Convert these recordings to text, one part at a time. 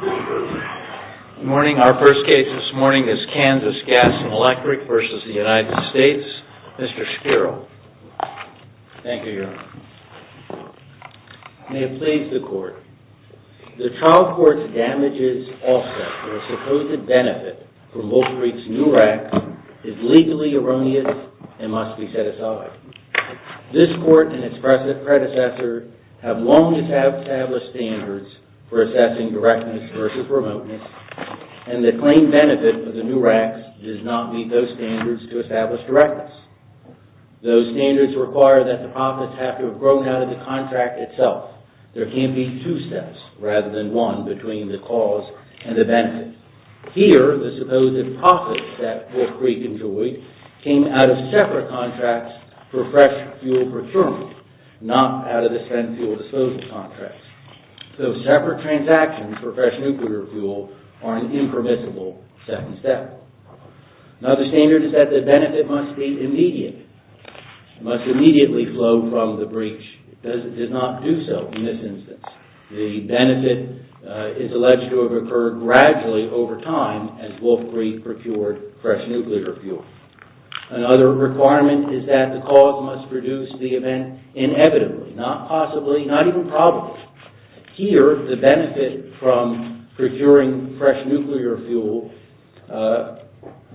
Good morning. Our first case this morning is KANSAS GAS & ELECTRIC v. United States. Mr. Shapiro. Thank you, Your Honor. May it please the Court. The trial court's damages offset for a supposed benefit from Wolfreed's new rack is legally erroneous and must be set aside. This Court and its precedent predecessor have long established standards for assessing directness versus remoteness, and the claimed benefit for the new racks does not meet those standards to establish directness. Those standards require that the profits have to have grown out of the contract itself. There can't be two steps rather than one between the cause and the benefit. And here, the supposed profits that Wolfreed enjoyed came out of separate contracts for fresh fuel procurement, not out of the spent fuel disposal contracts. So separate transactions for fresh nuclear fuel are an impermissible second step. Another standard is that the benefit must be immediate, must immediately flow from the breach. It does not do so in this instance. The benefit is alleged to have occurred gradually over time as Wolfreed procured fresh nuclear fuel. Another requirement is that the cause must produce the event inevitably, not possibly, not even probably. Here, the benefit from procuring fresh nuclear fuel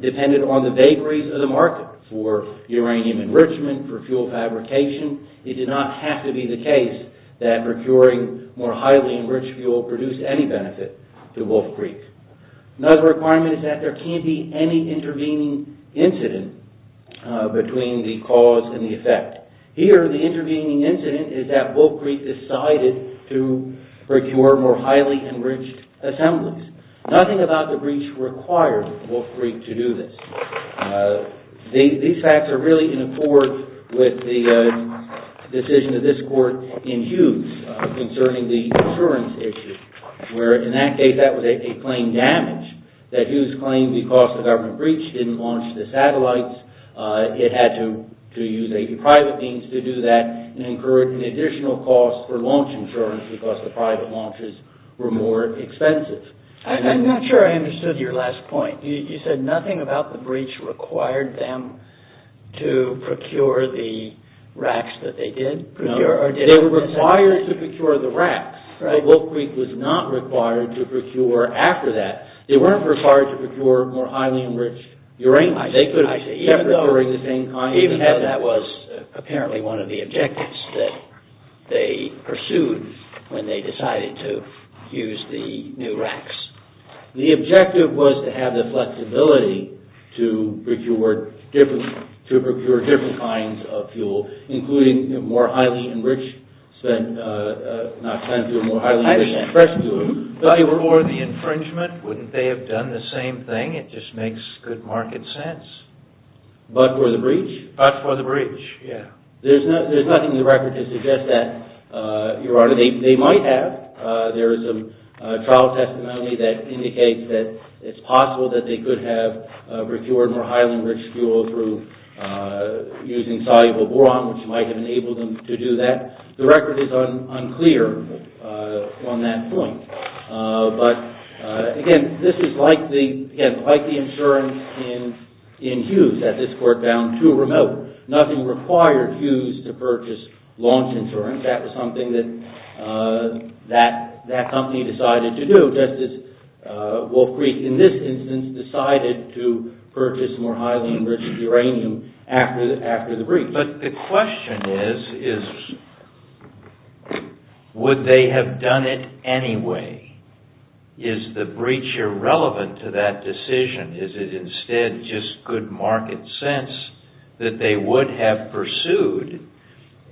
depended on the vagaries of the market for uranium enrichment, for fuel fabrication. It did not have to be the case that procuring more highly enriched fuel produced any benefit to Wolfreed. Another requirement is that there can't be any intervening incident between the cause and the effect. Here, the intervening incident is that Wolfreed decided to procure more highly enriched assemblies. Nothing about the breach required Wolfreed to do this. These facts are really in accord with the decision of this court in Hughes concerning the insurance issue, where in that case that was a claim damage that Hughes claimed because the government breach didn't launch the satellites. It had to use a private means to do that and incurred an additional cost for launch insurance because the private launches were more expensive. I'm not sure I understood your last point. You said nothing about the breach required them to procure the racks that they did? No, they were required to procure the racks, but Wolfreed was not required to procure after that. They weren't required to procure more highly enriched uranium. Even though that was apparently one of the objectives that they pursued when they decided to use the new racks. The objective was to have the flexibility to procure different kinds of fuel, including more highly enriched spent, not spent fuel, more highly enriched expression fuel. Or the infringement, wouldn't they have done the same thing? It just makes good market sense. But for the breach? But for the breach, yeah. There's nothing in the record to suggest that they might have. There is a trial testimony that indicates that it's possible that they could have procured more highly enriched fuel through using soluble boron, which might have enabled them to do that. The record is unclear on that point. But again, this is like the insurance in Hughes that this court found too remote. Nothing required Hughes to purchase launch insurance. That was something that that company decided to do, just as Wolfreed, in this instance, decided to purchase more highly enriched uranium after the breach. But the question is, would they have done it anyway? Is the breach irrelevant to that decision? Is it instead just good market sense that they would have pursued,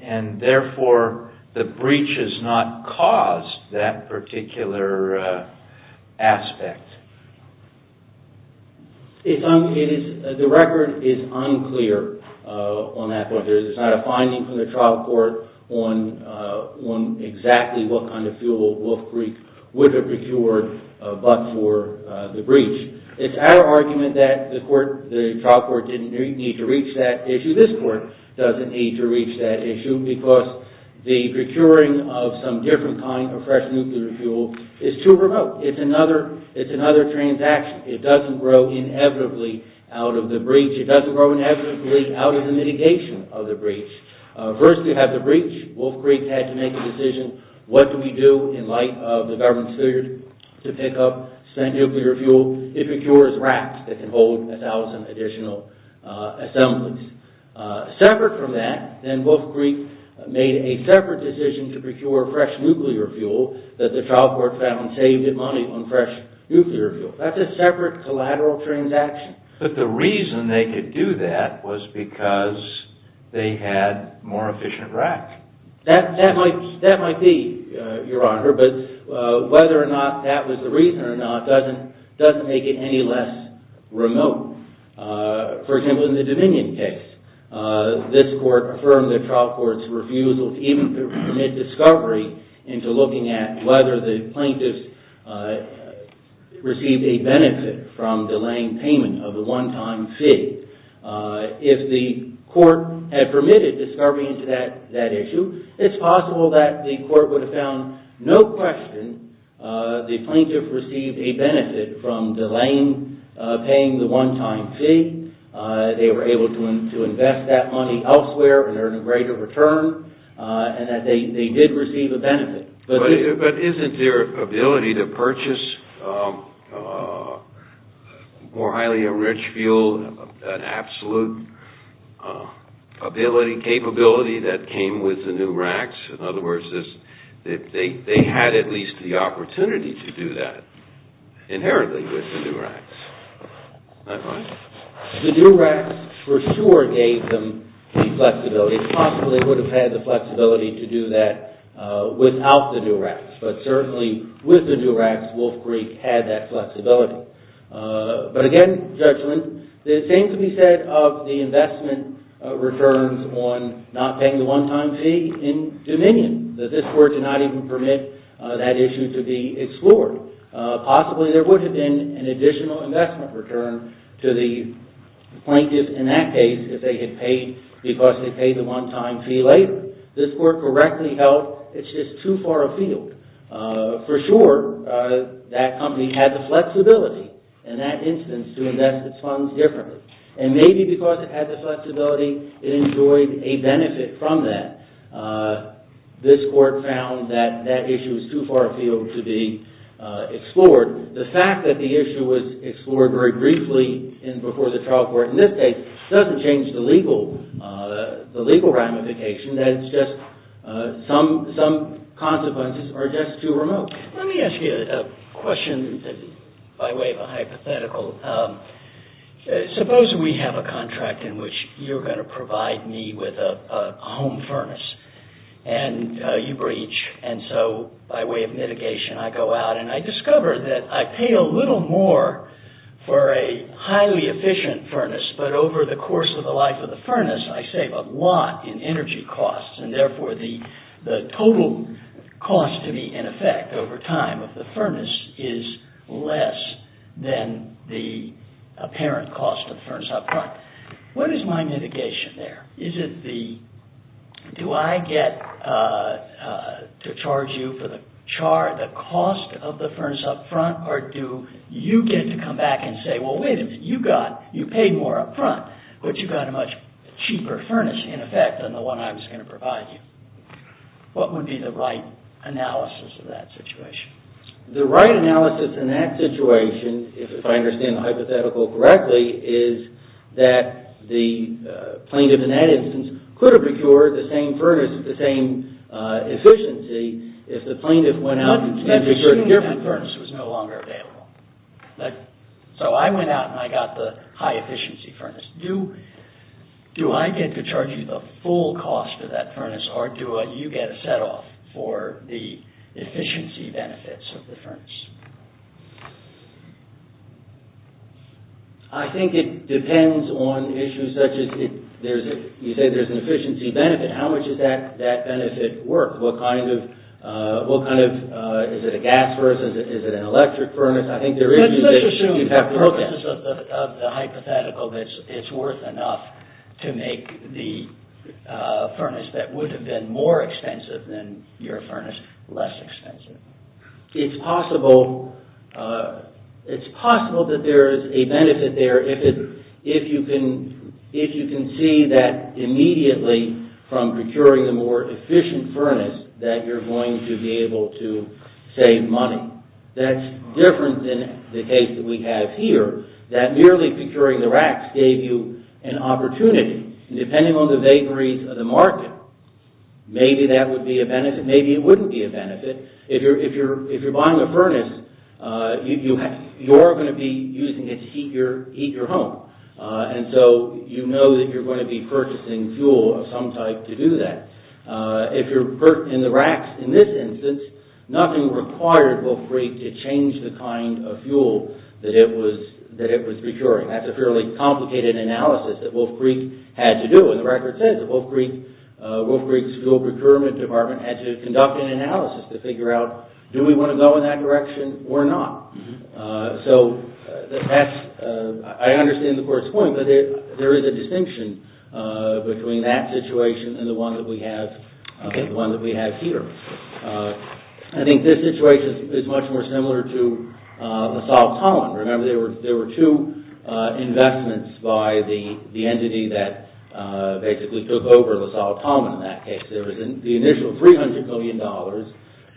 and therefore the breach has not caused that particular aspect? The record is unclear on that point. There's not a finding from the trial court on exactly what kind of fuel Wolfreed would have procured but for the breach. It's our argument that the trial court didn't need to reach that issue. This court doesn't need to reach that issue because the procuring of some different kind of fresh nuclear fuel is too remote. It's another transaction. It doesn't grow inevitably out of the breach. It doesn't grow inevitably out of the mitigation of the breach. First, you have the breach. Wolfreed had to make a decision. What do we do in light of the government's failure to pick up spent nuclear fuel? It procures racks that can hold a thousand additional assemblies. Separate from that, then Wolfreed made a separate decision to procure fresh nuclear fuel that the trial court found saved it money on fresh nuclear fuel. That's a separate collateral transaction. But the reason they could do that was because they had more efficient rack. That might be, Your Honor, but whether or not that was the reason or not doesn't make it any less remote. For example, in the Dominion case, this court affirmed the trial court's refusal to even permit discovery into looking at whether the plaintiffs received a benefit from delaying payment of the one-time fee. If the court had permitted discovery into that issue, it's possible that the court would have found no question the plaintiff received a benefit from delaying paying the one-time fee. They were able to invest that money elsewhere and earn a greater return and that they did receive a benefit. But isn't their ability to purchase more highly enriched fuel an absolute capability that came with the new racks? In other words, they had at least the opportunity to do that inherently with the new racks. The new racks for sure gave them the flexibility. They possibly would have had the flexibility to do that without the new racks. But certainly with the new racks, Wolf Creek had that flexibility. But again, Judgment, it seems to be said of the investment returns on not paying the one-time fee in Dominion that this court did not even permit that issue to be explored. Possibly there would have been an additional investment return to the plaintiff in that case if they had paid because they paid the one-time fee later. This court correctly held it's just too far afield. For sure, that company had the flexibility in that instance to invest its funds differently. And maybe because it had the flexibility, it enjoyed a benefit from that. This court found that that issue was too far afield to be explored. The fact that the issue was explored very briefly before the trial court in this case doesn't change the legal ramification. That it's just some consequences are just too remote. Let me ask you a question by way of a hypothetical. Suppose we have a contract in which you're going to provide me with a home furnace. And you breach. And so by way of mitigation, I go out. And I discover that I pay a little more for a highly efficient furnace. But over the course of the life of the furnace, I save a lot in energy costs. And therefore, the total cost to me in effect over time of the furnace is less than the apparent cost of the furnace up front. What is my mitigation there? Do I get to charge you for the cost of the furnace up front? Or do you get to come back and say, well, wait a minute. You paid more up front. But you got a much cheaper furnace in effect than the one I was going to provide you. What would be the right analysis of that situation? The right analysis in that situation, if I understand the hypothetical correctly, is that the plaintiff in that instance could have procured the same furnace with the same efficiency if the plaintiff went out and procured a different furnace. That furnace was no longer available. So I went out and I got the high efficiency furnace. Do I get to charge you the full cost of that furnace? Or do you get a set off for the efficiency benefits of the furnace? I think it depends on issues such as you say there's an efficiency benefit. How much does that benefit work? What kind of, is it a gas furnace? Is it an electric furnace? I think there is issues that you'd have to work with. Let's assume the purpose of the hypothetical that it's worth enough to make the furnace that would have been more expensive than your furnace less expensive. It's possible that there is a benefit there if you can see that immediately from procuring the more efficient furnace that you're going to be able to save money. That's different than the case that we have here that merely procuring the racks gave you an opportunity. Depending on the vapories of the market, maybe that would be a benefit, maybe it wouldn't be a benefit. If you're buying a furnace, you're going to be using it to heat your home. And so you know that you're going to be purchasing fuel of some type to do that. In the racks in this instance, nothing required Wolf Creek to change the kind of fuel that it was procuring. That's a fairly complicated analysis that Wolf Creek had to do. And the record says Wolf Creek's fuel procurement department had to conduct an analysis to figure out do we want to go in that direction or not. So I understand the court's point, but there is a distinction between that situation and the one that we have here. I think this situation is much more similar to the Salt Pond. Remember there were two investments by the entity that basically took over the Salt Pond in that case. There was the initial $300 million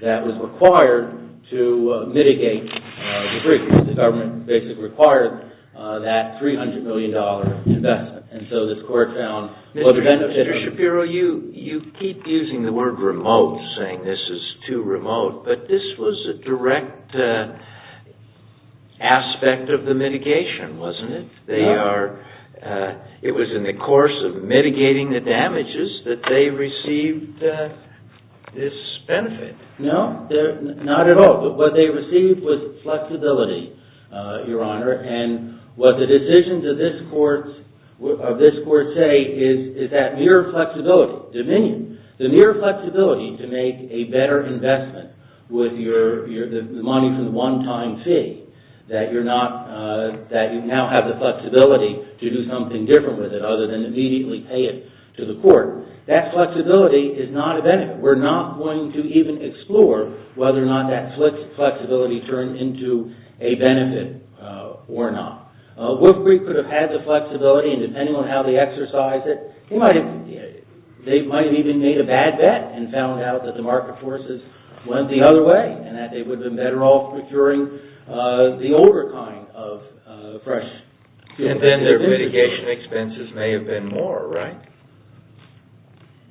that was required to mitigate the breach. The government basically required that $300 million investment. And so this court found what the benefit of- Mr. Shapiro, you keep using the word remote, saying this is too remote, but this was a direct aspect of the mitigation, wasn't it? It was in the course of mitigating the damages that they received this benefit. No, not at all. What they received was flexibility, Your Honor, and what the decisions of this court say is that mere flexibility, the mere flexibility to make a better investment with the money from the one-time fee, that you now have the flexibility to do something different with it other than immediately pay it to the court, that flexibility is not a benefit. We're not going to even explore whether or not that flexibility turned into a benefit or not. Woodbury could have had the flexibility, and depending on how they exercised it, they might have even made a bad bet and found out that the market forces went the other way and that they would have been better off procuring the older kind of fresh fuel. And then their mitigation expenses may have been more, right?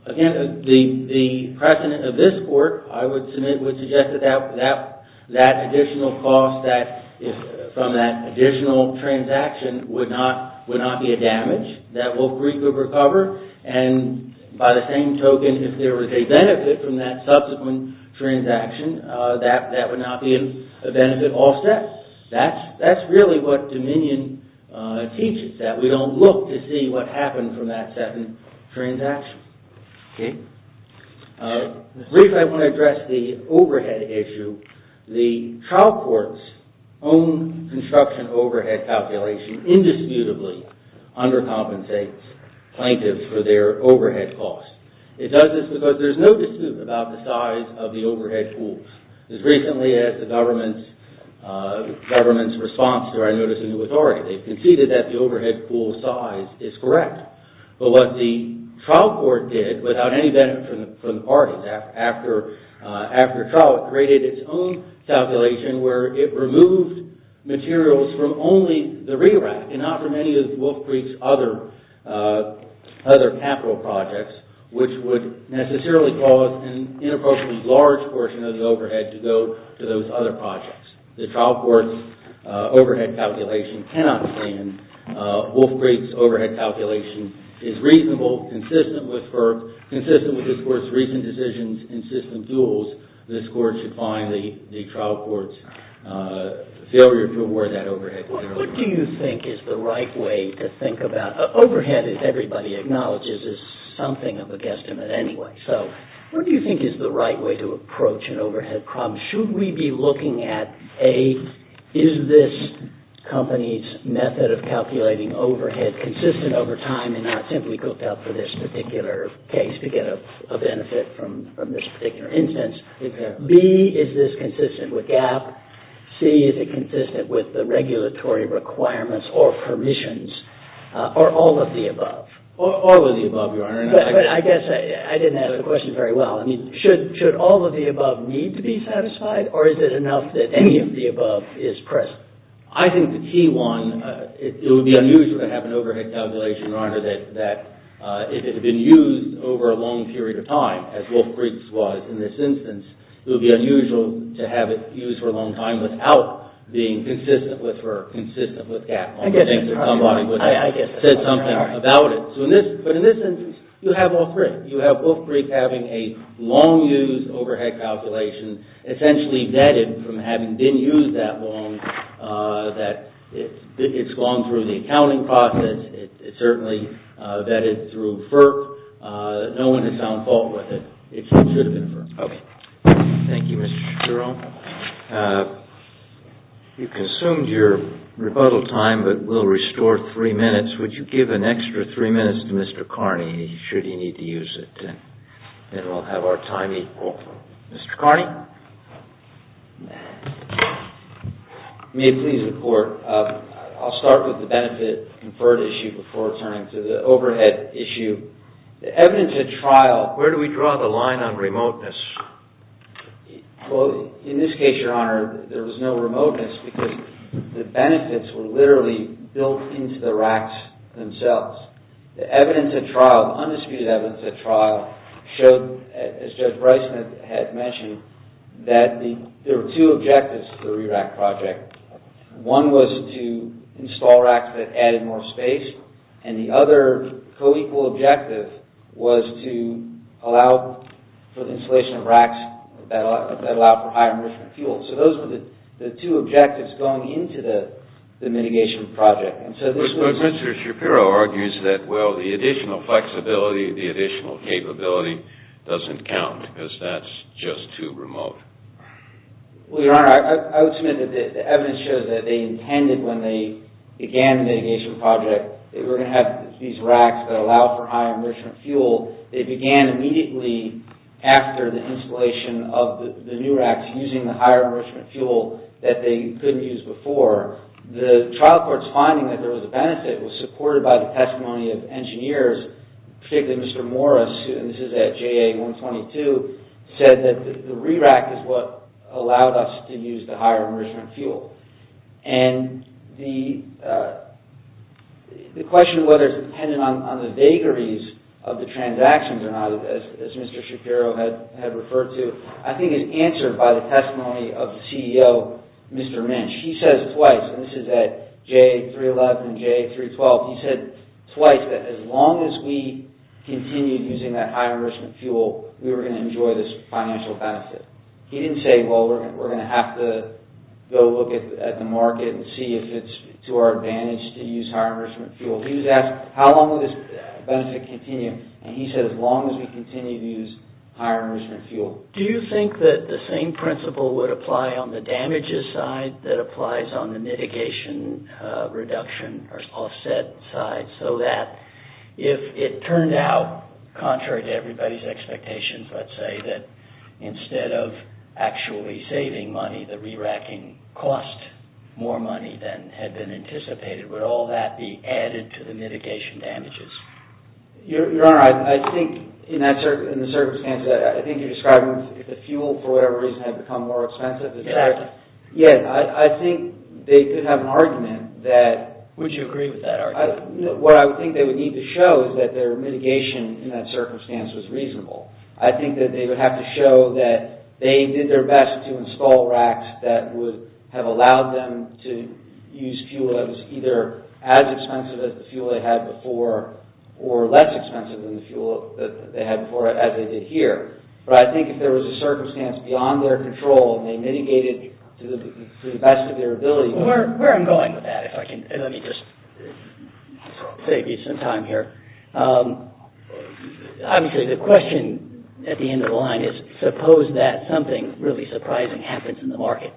Again, the precedent of this court, I would suggest that that additional cost from that additional transaction would not be a damage that Woodbury could recover, and by the same token, if there was a benefit from that subsequent transaction, that would not be a benefit all set. That's really what dominion teaches, that we don't look to see what happened from that second transaction. Briefly, I want to address the overhead issue. The trial court's own construction overhead calculation indisputably undercompensates plaintiffs for their overhead costs. It does this because there's no dispute about the size of the overhead pool. As recently as the government's response to our notice of new authority, they've conceded that the overhead pool size is correct. But what the trial court did, without any benefit from the parties after trial, it created its own calculation where it removed materials from only the rerack and not from any of Wolf Creek's other capital projects, which would necessarily cause an inappropriately large portion of the overhead to go to those other projects. The trial court's overhead calculation cannot stand. Wolf Creek's overhead calculation is reasonable, consistent with this Court's recent decisions and system tools. This Court should find the trial court's failure to award that overhead. What do you think is the right way to think about... Overhead, as everybody acknowledges, is something of a guesstimate anyway. So what do you think is the right way to approach an overhead problem? Should we be looking at, A, is this company's method of calculating overhead consistent over time and not simply cooked up for this particular case to get a benefit from this particular instance? B, is this consistent with GAAP? C, is it consistent with the regulatory requirements or permissions or all of the above? All of the above, Your Honor. But I guess I didn't ask the question very well. Should all of the above need to be satisfied or is it enough that any of the above is present? I think the key one, it would be unusual to have an overhead calculation, Your Honor, that if it had been used over a long period of time, as Wolf Creek's was in this instance, it would be unusual to have it used for a long time without being consistent with FERC, consistent with GAAP. I guess that's right. But in this instance, you have all three. You have Wolf Creek having a long-use overhead calculation essentially vetted from having been used that long that it's gone through the accounting process. It's certainly vetted through FERC. No one has found fault with it. It should have been FERC. Thank you, Mr. Jerome. You've consumed your rebuttal time, but we'll restore three minutes. Would you give an extra three minutes to Mr. Carney should he need to use it? Then we'll have our time equal. Mr. Carney? May it please the Court. I'll start with the benefit-conferred issue before turning to the overhead issue. The evidence at trial... Where do we draw the line on remoteness? Well, in this case, Your Honor, there was no remoteness because the benefits were literally built into the racks themselves. The evidence at trial, the undisputed evidence at trial, showed, as Judge Bryson had mentioned, that there were two objectives to the RE-RAC project. One was to install racks that added more space, and the other co-equal objective was to allow for the installation of racks that allowed for higher emission fuel. So those were the two objectives going into the mitigation project. But Mr. Shapiro argues that, well, the additional flexibility, the additional capability doesn't count because that's just too remote. Well, Your Honor, I would submit that the evidence when they began the mitigation project, they were going to have these racks that allow for higher emission fuel. They began immediately after the installation of the new racks using the higher emission fuel that they couldn't use before. The trial court's finding that there was a benefit was supported by the testimony of engineers, particularly Mr. Morris, and this is at JA-122, said that the RE-RAC is what allowed us to use the higher emission fuel. And the question of whether it's dependent on the vagaries of the transactions or not, as Mr. Shapiro had referred to, I think is answered by the testimony of the CEO, Mr. Minch. He says twice, and this is at JA-311 and JA-312, he said twice that as long as we continued using that higher emission fuel, we were going to enjoy this financial benefit. He didn't say, well, we're going to have to go look at the market and see if it's to our advantage to use higher emission fuel. He was asked, how long will this benefit continue? And he said, as long as we continue to use higher emission fuel. Do you think that the same principle would apply on the damages side that applies on the mitigation reduction or offset side, so that if it turned out, contrary to everybody's expectations, let's say that instead of actually saving money, the re-racking cost more money than had been anticipated, would all that be added to the mitigation damages? Your Honor, I think in the circumstances, I think you're describing the fuel for whatever reason had become more expensive. Yes. I think they could have an argument that... Would you agree with that argument? What I think they would need to show is that their mitigation in that circumstance was reasonable. I think that they would have to show that they did their best to install racks that would have allowed them to use fuel that was either as expensive as the fuel they had before or less expensive than the fuel that they had before as they did here. But I think if there was a circumstance beyond their control and they mitigated to the best of their ability... Where I'm going with that, if I can... Let me just save you some time here. Obviously, the question at the end of the line is suppose that something really surprising happens in the market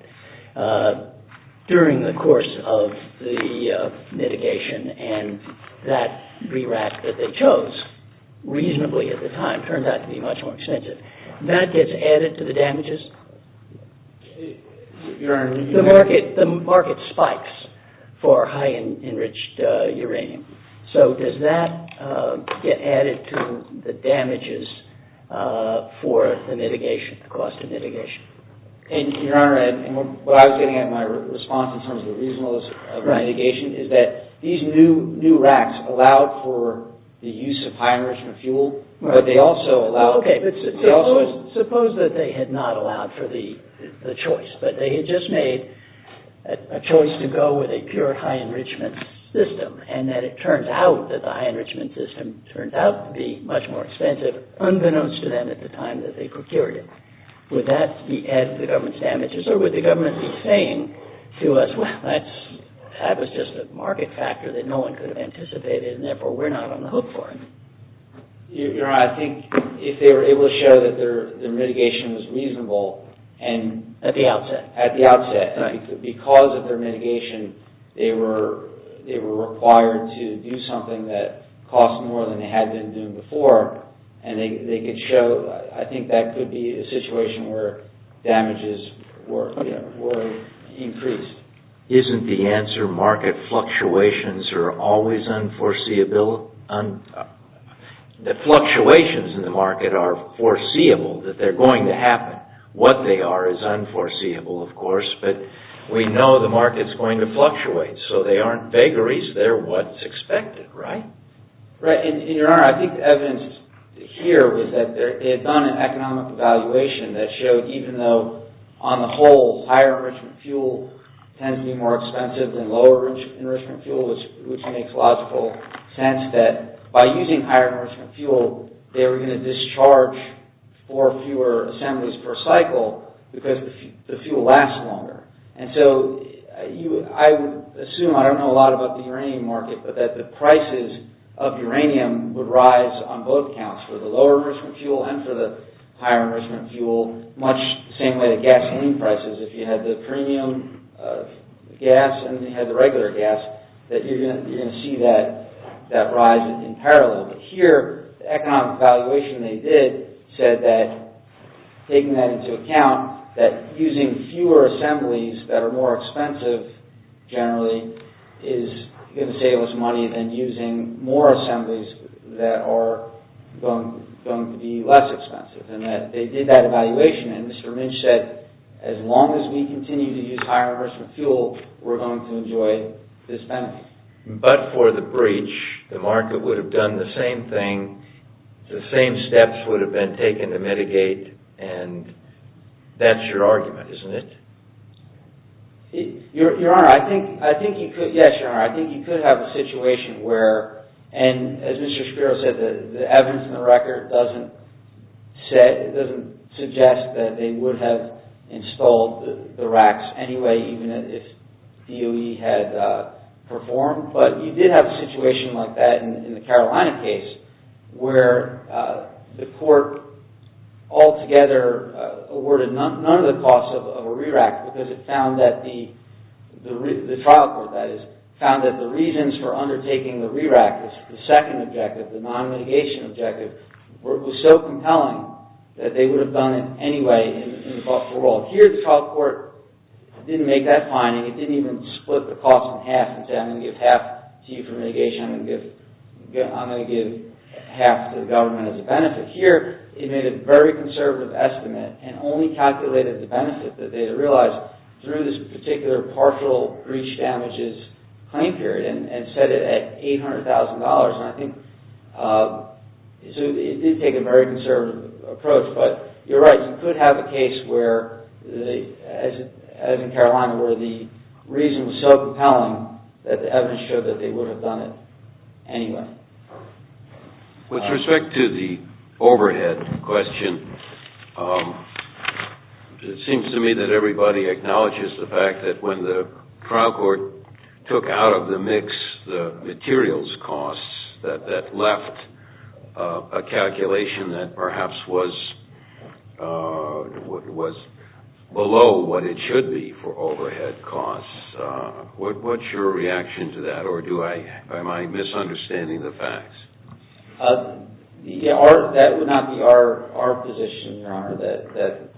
during the course of the mitigation and that re-rack that they chose reasonably at the time turned out to be much more expensive. That gets added to the damages? Your Honor... The market spikes for high enriched uranium. So does that get added to the damages for the mitigation, the cost of mitigation? Your Honor, what I was getting at in my response in terms of the reasonableness of mitigation is that these new racks allowed for the use of high enrichment fuel but they also allowed... Suppose that they had not allowed for the choice but they had just made a choice to go with a pure high enrichment system and that it turns out that the high enrichment system turned out to be much more expensive unbeknownst to them at the time that they procured it. Would that be added to the government's damages or would the government be saying to us, well, that was just a market factor that no one could have anticipated and therefore we're not on the hook for it? Your Honor, I think if they were able to show that their mitigation was reasonable and... At the outset. At the outset. Because of their mitigation, they were required to do something that cost more than they had been doing before and they could show... I think that could be a situation where damages were increased. Isn't the answer market fluctuations are always unforeseeable... The fluctuations in the market are foreseeable that they're going to happen. What they are is unforeseeable, of course, but we know the market's going to fluctuate so they aren't vagaries. Is there what's expected, right? Right. And, Your Honor, I think the evidence here was that they had done an economic evaluation that showed even though, on the whole, higher enrichment fuel tends to be more expensive than lower enrichment fuel, which makes logical sense that by using higher enrichment fuel, they were going to discharge for fewer assemblies per cycle because the fuel lasts longer. And so, I would assume, I don't know a lot about the uranium market, but that the prices of uranium would rise on both counts, for the lower enrichment fuel and for the higher enrichment fuel, much the same way the gasoline prices, if you had the premium gas and you had the regular gas, that you're going to see that rise in parallel. But here, the economic evaluation they did said that, taking that into account, that using fewer assemblies that are more expensive, generally, is going to save us money than using more assemblies that are going to be less expensive and that they did that evaluation and Mr. Lynch said, as long as we continue to use higher enrichment fuel, we're going to enjoy this benefit. But for the breach, the market would have done the same thing, the same steps would have been taken to mitigate and that's your argument, isn't it? Your Honor, I think you could have a situation where, and as Mr. Shapiro said, the evidence in the record doesn't suggest that they would have installed the racks anyway, even if DOE had performed, but you did have a situation like that in the Carolina case, where the court altogether awarded none of the costs of a re-rack because it found that the, the trial court, that is, found that the reasons for undertaking the re-rack, the second objective, the non-mitigation objective, was so compelling that they would have done it anyway and fought for a while. Here, the trial court didn't make that finding, it didn't even split the cost in half and said, I'm going to give half to you for mitigation, I'm going to give half to the government as a benefit. Here, it made a very conservative estimate and only calculated the benefit that they realized through this particular partial breach damages claim period and set it at $800,000, and I think, so it did take a very conservative approach, but you're right, you could have a case where, as in Carolina, where the reason was so compelling that the evidence showed that they would have done it anyway. With respect to the overhead question, it seems to me that everybody acknowledges the fact that when the trial court took out of the mix the materials costs that left a calculation that perhaps was, was below what it should be for overhead costs. What's your reaction to that, or am I misunderstanding the facts? That would not be our position, Your Honor, that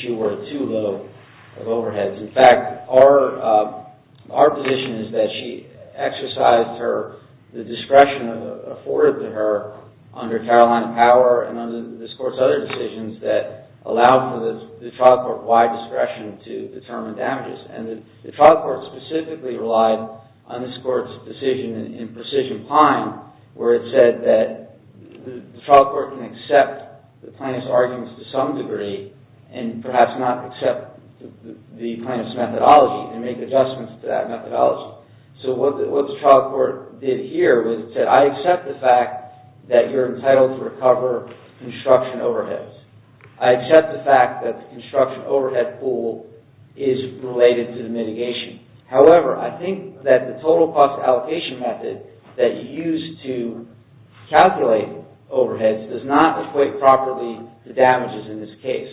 she were too low of overheads. In fact, our position is that she exercised her, the discretion afforded to her under Carolina Power and under this Court's other decisions that allow for the trial court-wide discretion to determine damages, and the trial court specifically relied on this Court's decision in Precision Pine where it said that the trial court can accept the plaintiff's arguments to some degree and perhaps not accept the plaintiff's methodology and make adjustments to that methodology. So what the trial court did here was that I accept the fact that you're entitled to recover construction overheads. I accept the fact that the construction overhead pool is related to the mitigation. However, I think that the total cost allocation method that you use to calculate overheads does not equate properly to damages in this case.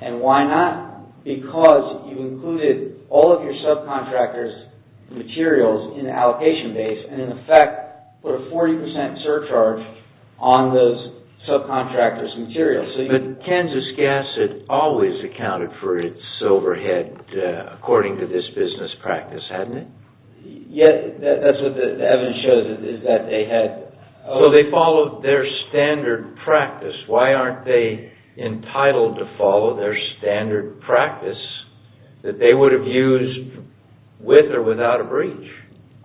And why not? Because you included all of your subcontractors' materials in the allocation base and in effect put a 40% surcharge on those subcontractors' materials. But Kansas Gas had always accounted for its overhead according to this business practice, hadn't it? Yes, that's what the evidence shows is that they had... So they followed their standard practice. Why aren't they entitled to follow their standard practice that they would have used with or without a breach?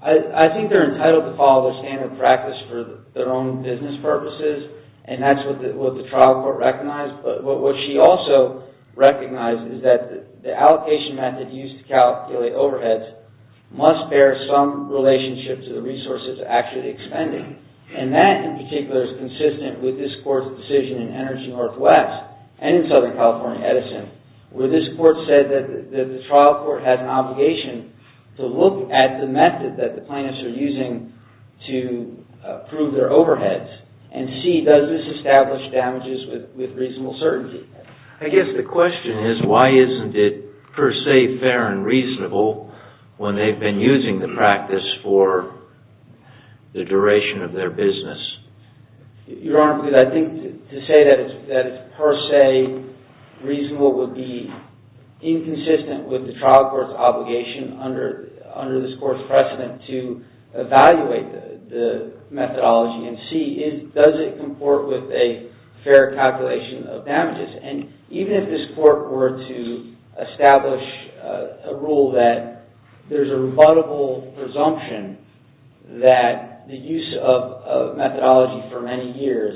I think they're entitled to follow the standard practice for their own business purposes and that's what the trial court recognized. What she also recognized is that the allocation method used to calculate overheads must bear some relationship to the resources actually expending. And that in particular is consistent with this court's decision in Energy Northwest and in Southern California Edison where this court said that the trial court had an obligation to look at the method that the plaintiffs are using to prove their overheads and see does this establish damages with reasonable certainty. I guess the question is why isn't it per se fair and reasonable when they've been using the practice for the duration of their business? Your Honor, I think to say that it's per se reasonable would be inconsistent with the trial court's obligation under this court's precedent to evaluate the methodology and see does it comport with a fair calculation of damages. And even if this court were to establish a rule that there's a rebuttable presumption that the use of methodology for many years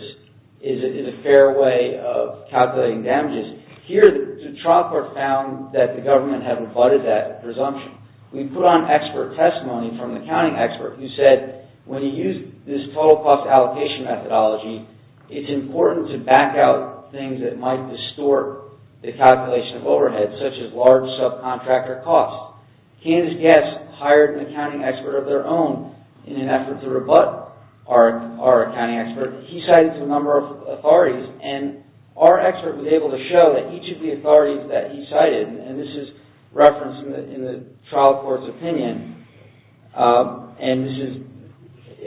is a fair way of calculating damages, here the trial court found that the government had rebutted that presumption. We put on expert testimony from the accounting expert who said when you use this total cost allocation methodology it's important to back out things that might distort the calculation of overhead such as large subcontractor costs. Candidate Gatz hired an accounting expert of their own in an effort to rebut our accounting expert. He cited a number of authorities and our expert was able to show that each of the authorities that he cited, and this is referenced in the trial court's opinion, and this is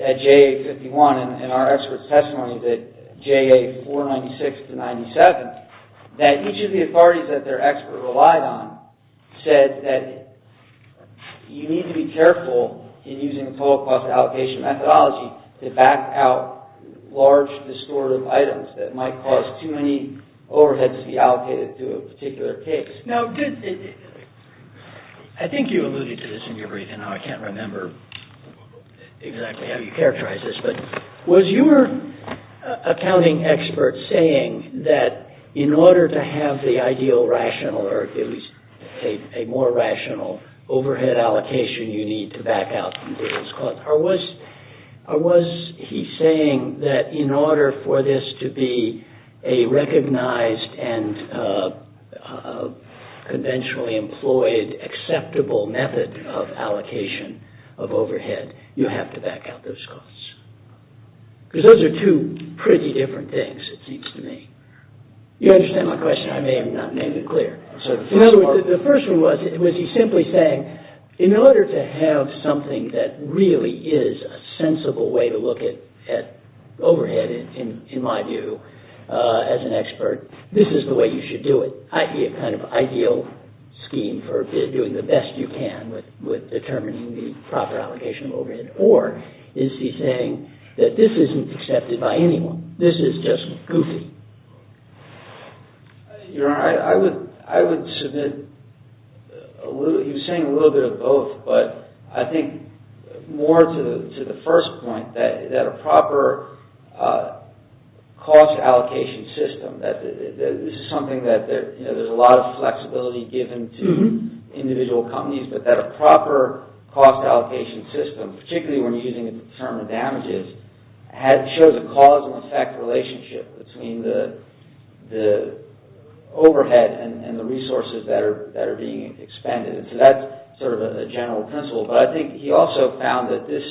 at JA 51 and our expert's testimony that JA 496 to 97, that each of the authorities that their expert relied on said that you need to be careful in using the total cost allocation methodology to back out large distortive items that might cause too many overheads to be allocated to a particular case. Now, I think you alluded to this in your brief and now I can't remember exactly how you characterized this, but was your accounting expert saying that in order to have the ideal, rational, or at least a more rational overhead allocation you need to back out from business costs, or was he saying that in order for this to be a recognized and conventionally employed acceptable method of allocation of overhead, you have to back out those costs? Because those are two pretty different things it seems to me. You understand my question? I may have not made it clear. In other words, the first one was, was he simply saying in order to have something that really is a sensible way to look at overhead in my view as an expert, this is the way you should do it, i.e. a kind of ideal scheme for doing the best you can with determining the proper allocation of overhead, or is he saying that this isn't accepted by anyone, this is just goofy? Your Honor, I would submit he was saying a little bit of both, but I think more to the first point that a proper cost allocation system, that this is something that there's a lot of flexibility given to individual companies, but that a proper cost allocation system, particularly when using to determine damages, shows a cause and effect relationship between the overhead and the resources that are being expended. So that's sort of a general principle, but I think he also found that this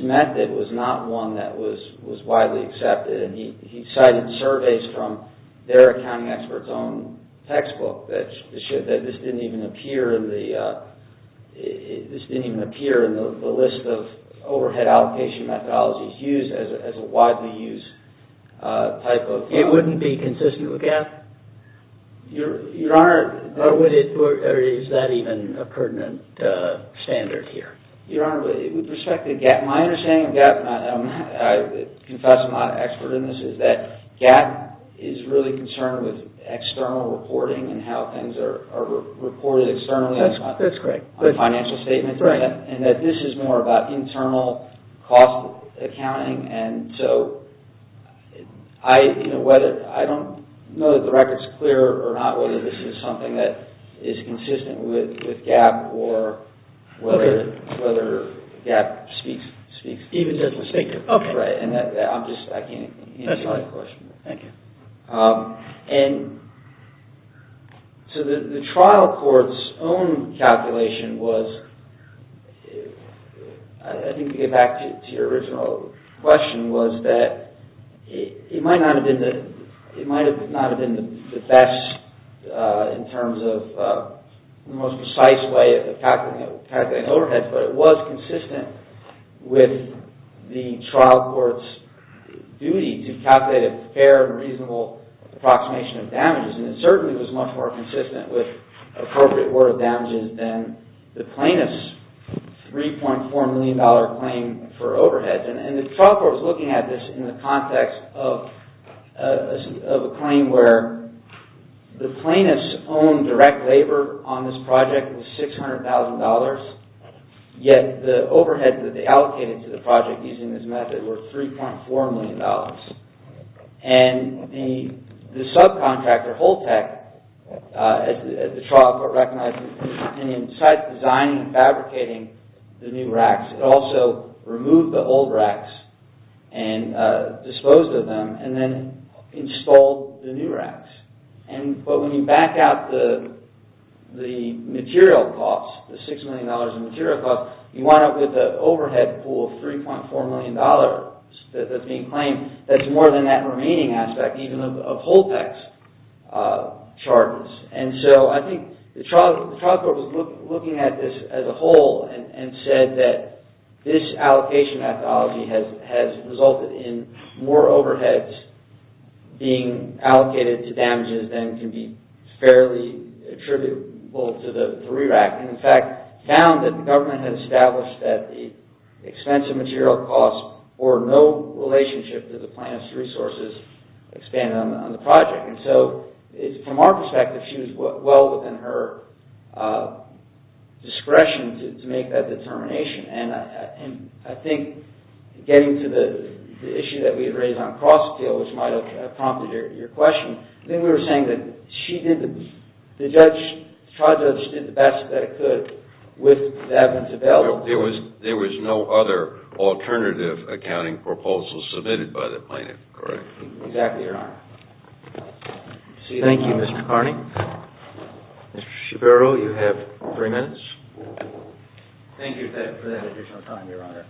method was not one that was widely accepted, and he cited surveys from their accounting experts own textbook that this didn't even appear in the list of overhead allocation methodologies used as a widely used type of... It wouldn't be consistent with GAAP? Your Honor... Or is that even a pertinent standard here? Your Honor, with respect to GAAP, my understanding of GAAP, I confess I'm not an expert in this, is that GAAP is really concerned with external reporting and how things are reported externally... That's great. ...on financial statements, and that this is more about internal cost accounting, and so I don't know that the record's clear or not whether this is something that is consistent with GAAP or whether GAAP speaks... Even doesn't speak to it. Right. And I'm just... I can't answer that question. Thank you. And... So the trial court's own calculation was... I think to get back to your original question was that it might not have been the best in terms of the most precise way of calculating overhead, but it was consistent with the trial court's duty to calculate a fair and reasonable approximation of damages, and it certainly was much more consistent with appropriate order of damages than the plaintiff's $3.4 million claim for overhead. And the trial court was looking at this in the context of a claim where the plaintiff's own direct labor on this project was $600,000, yet the overhead that they allocated to the project using this method was worth $3.4 million. And the subcontractor, Holtec, at the trial court recognized that in designing and fabricating the new racks, it also removed the old racks and disposed of them and then installed the new racks. But when you back out the material costs, the $6 million in material costs, you wind up with an overhead pool of $3.4 million that's being claimed that's more than that remaining aspect even of Holtec's charges. And so I think the trial court was looking at this as a whole and said that this allocation methodology has resulted in more overheads being allocated to damages than can be fairly attributable to the re-rack. And in fact, found that the government had established that the expense of material costs bore no relationship to the plan's resources expanded on the project. And so, from our perspective, she was well within her discretion to make that determination. And I think getting to the issue that we had raised on cross-appeal, which might have prompted your question, I think we were saying that the trial judge did the best that it could with the evidence available. There was no other alternative accounting proposal submitted by the plaintiff, correct? Exactly, Your Honor. Thank you, Mr. Carney. Mr. Schapiro, you have three minutes. Thank you for that additional time, Your Honor.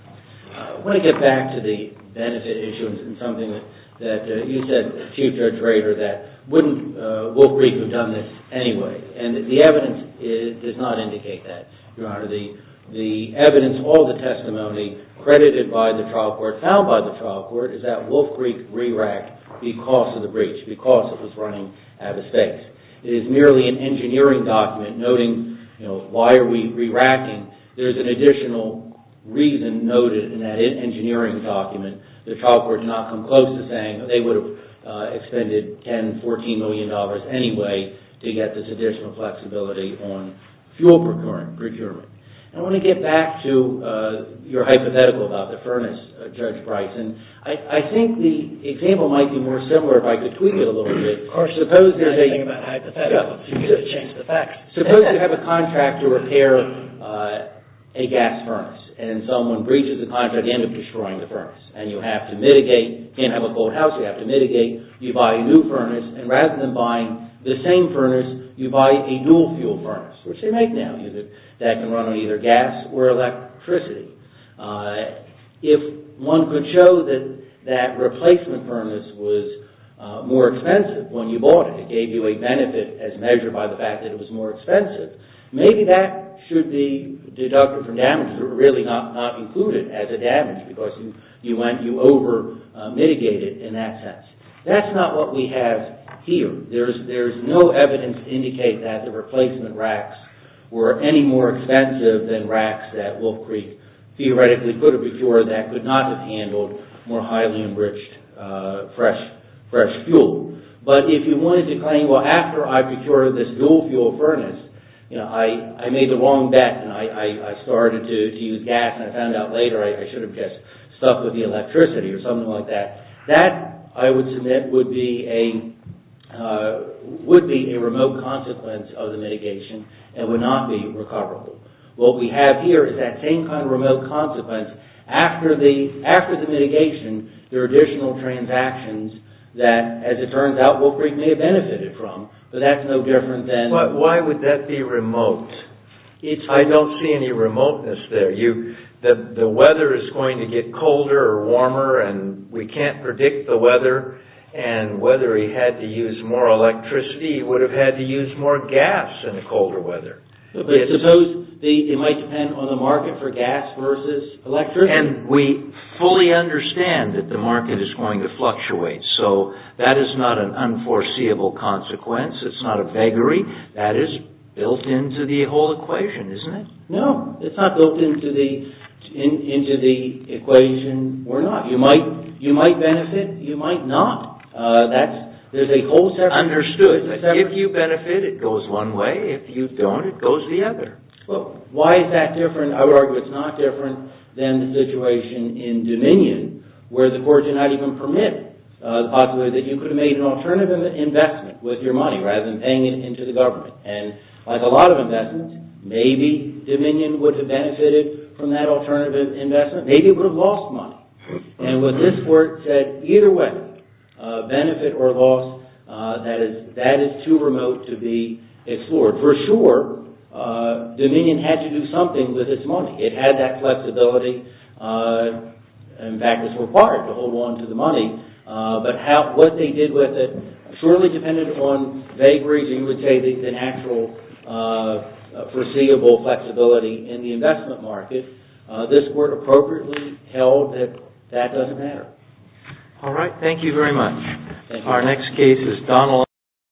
I want to get back to the benefit issues and something that you said, future trader, that wouldn't, Wilkrieg would've done this anyway. And the evidence does not indicate that, Your Honor. The evidence, all the testimony credited by the trial court, found by the trial court, is that Wilkrieg re-racked because of the breach, because it was running out of space. It is merely an engineering document noting, you know, why are we re-racking? There's an additional reason noted in that engineering document. The trial court did not come close to saying they would've expended 10, 14 million dollars anyway to get this additional flexibility on fuel procurement. I want to get back to your hypothetical about the furnace, Judge Bryce. I think the example might be more similar if I could tweak it a little bit. Of course, there's nothing about hypotheticals. You could've changed the facts. Suppose you have a contract to repair a gas furnace and someone breaches the contract, you end up destroying the furnace. And you have to mitigate, you can't have a cold house, you have to mitigate, you buy a new furnace and rather than buying the same furnace, you buy a dual fuel furnace, which they make now, that can run on either gas or electricity. If one could show that replacement furnace was more expensive when you bought it, it gave you a benefit as measured by the fact that it was more expensive, maybe that should be deducted from damages or really not included as a damage because you over-mitigated in that sense. That's not what we have here. There's no evidence to indicate that the replacement racks were any more expensive than racks that Wolf Creek theoretically could have procured that could not have handled more highly enriched fresh fuel. But if you wanted to claim well after I procured this dual fuel furnace, I made the wrong bet and I started to use gas and I found out later I should have just stuck with the electricity or something like that. That, I would submit, would be a remote consequence of the mitigation and would not be recoverable. What we have here is that same kind of remote consequence after the mitigation there are additional transactions that, as it turns out, Wolf Creek may have benefited from but that's no different than... Why would that be remote? I don't see any remoteness there. The weather is going to get colder or warmer and we can't predict the weather and whether he had to use more electricity would have had to use more gas in the colder weather. But suppose it might depend on the market for gas versus electricity? And we fully understand that the market is going to fluctuate so that is not an unforeseeable consequence. It's not a vagary. That is built into the whole equation, isn't it? No, it's not built into the into the equation. We're not. You might benefit. You might not. There's a whole separate... Understood. If you benefit, it goes one way. If you don't, it goes the other. Well, why is that different? I would argue it's not different than the situation in Dominion where the courts did not even permit the possibility that you could have made an alternative investment with your money rather than paying it into the government. And like a lot of investments, maybe Dominion would have benefited from that alternative investment. Maybe it would have lost money. And with this court said either way, benefit or loss, that is too remote to be explored. For sure, Dominion had to do something with its money. It had that flexibility. In fact, it's required to hold on to the money. But what they did with it surely depended on vagaries and you would say the natural foreseeable flexibility in the investment market. This court appropriately held that that doesn't matter. All right. Thank you very much. Our next case is Donald...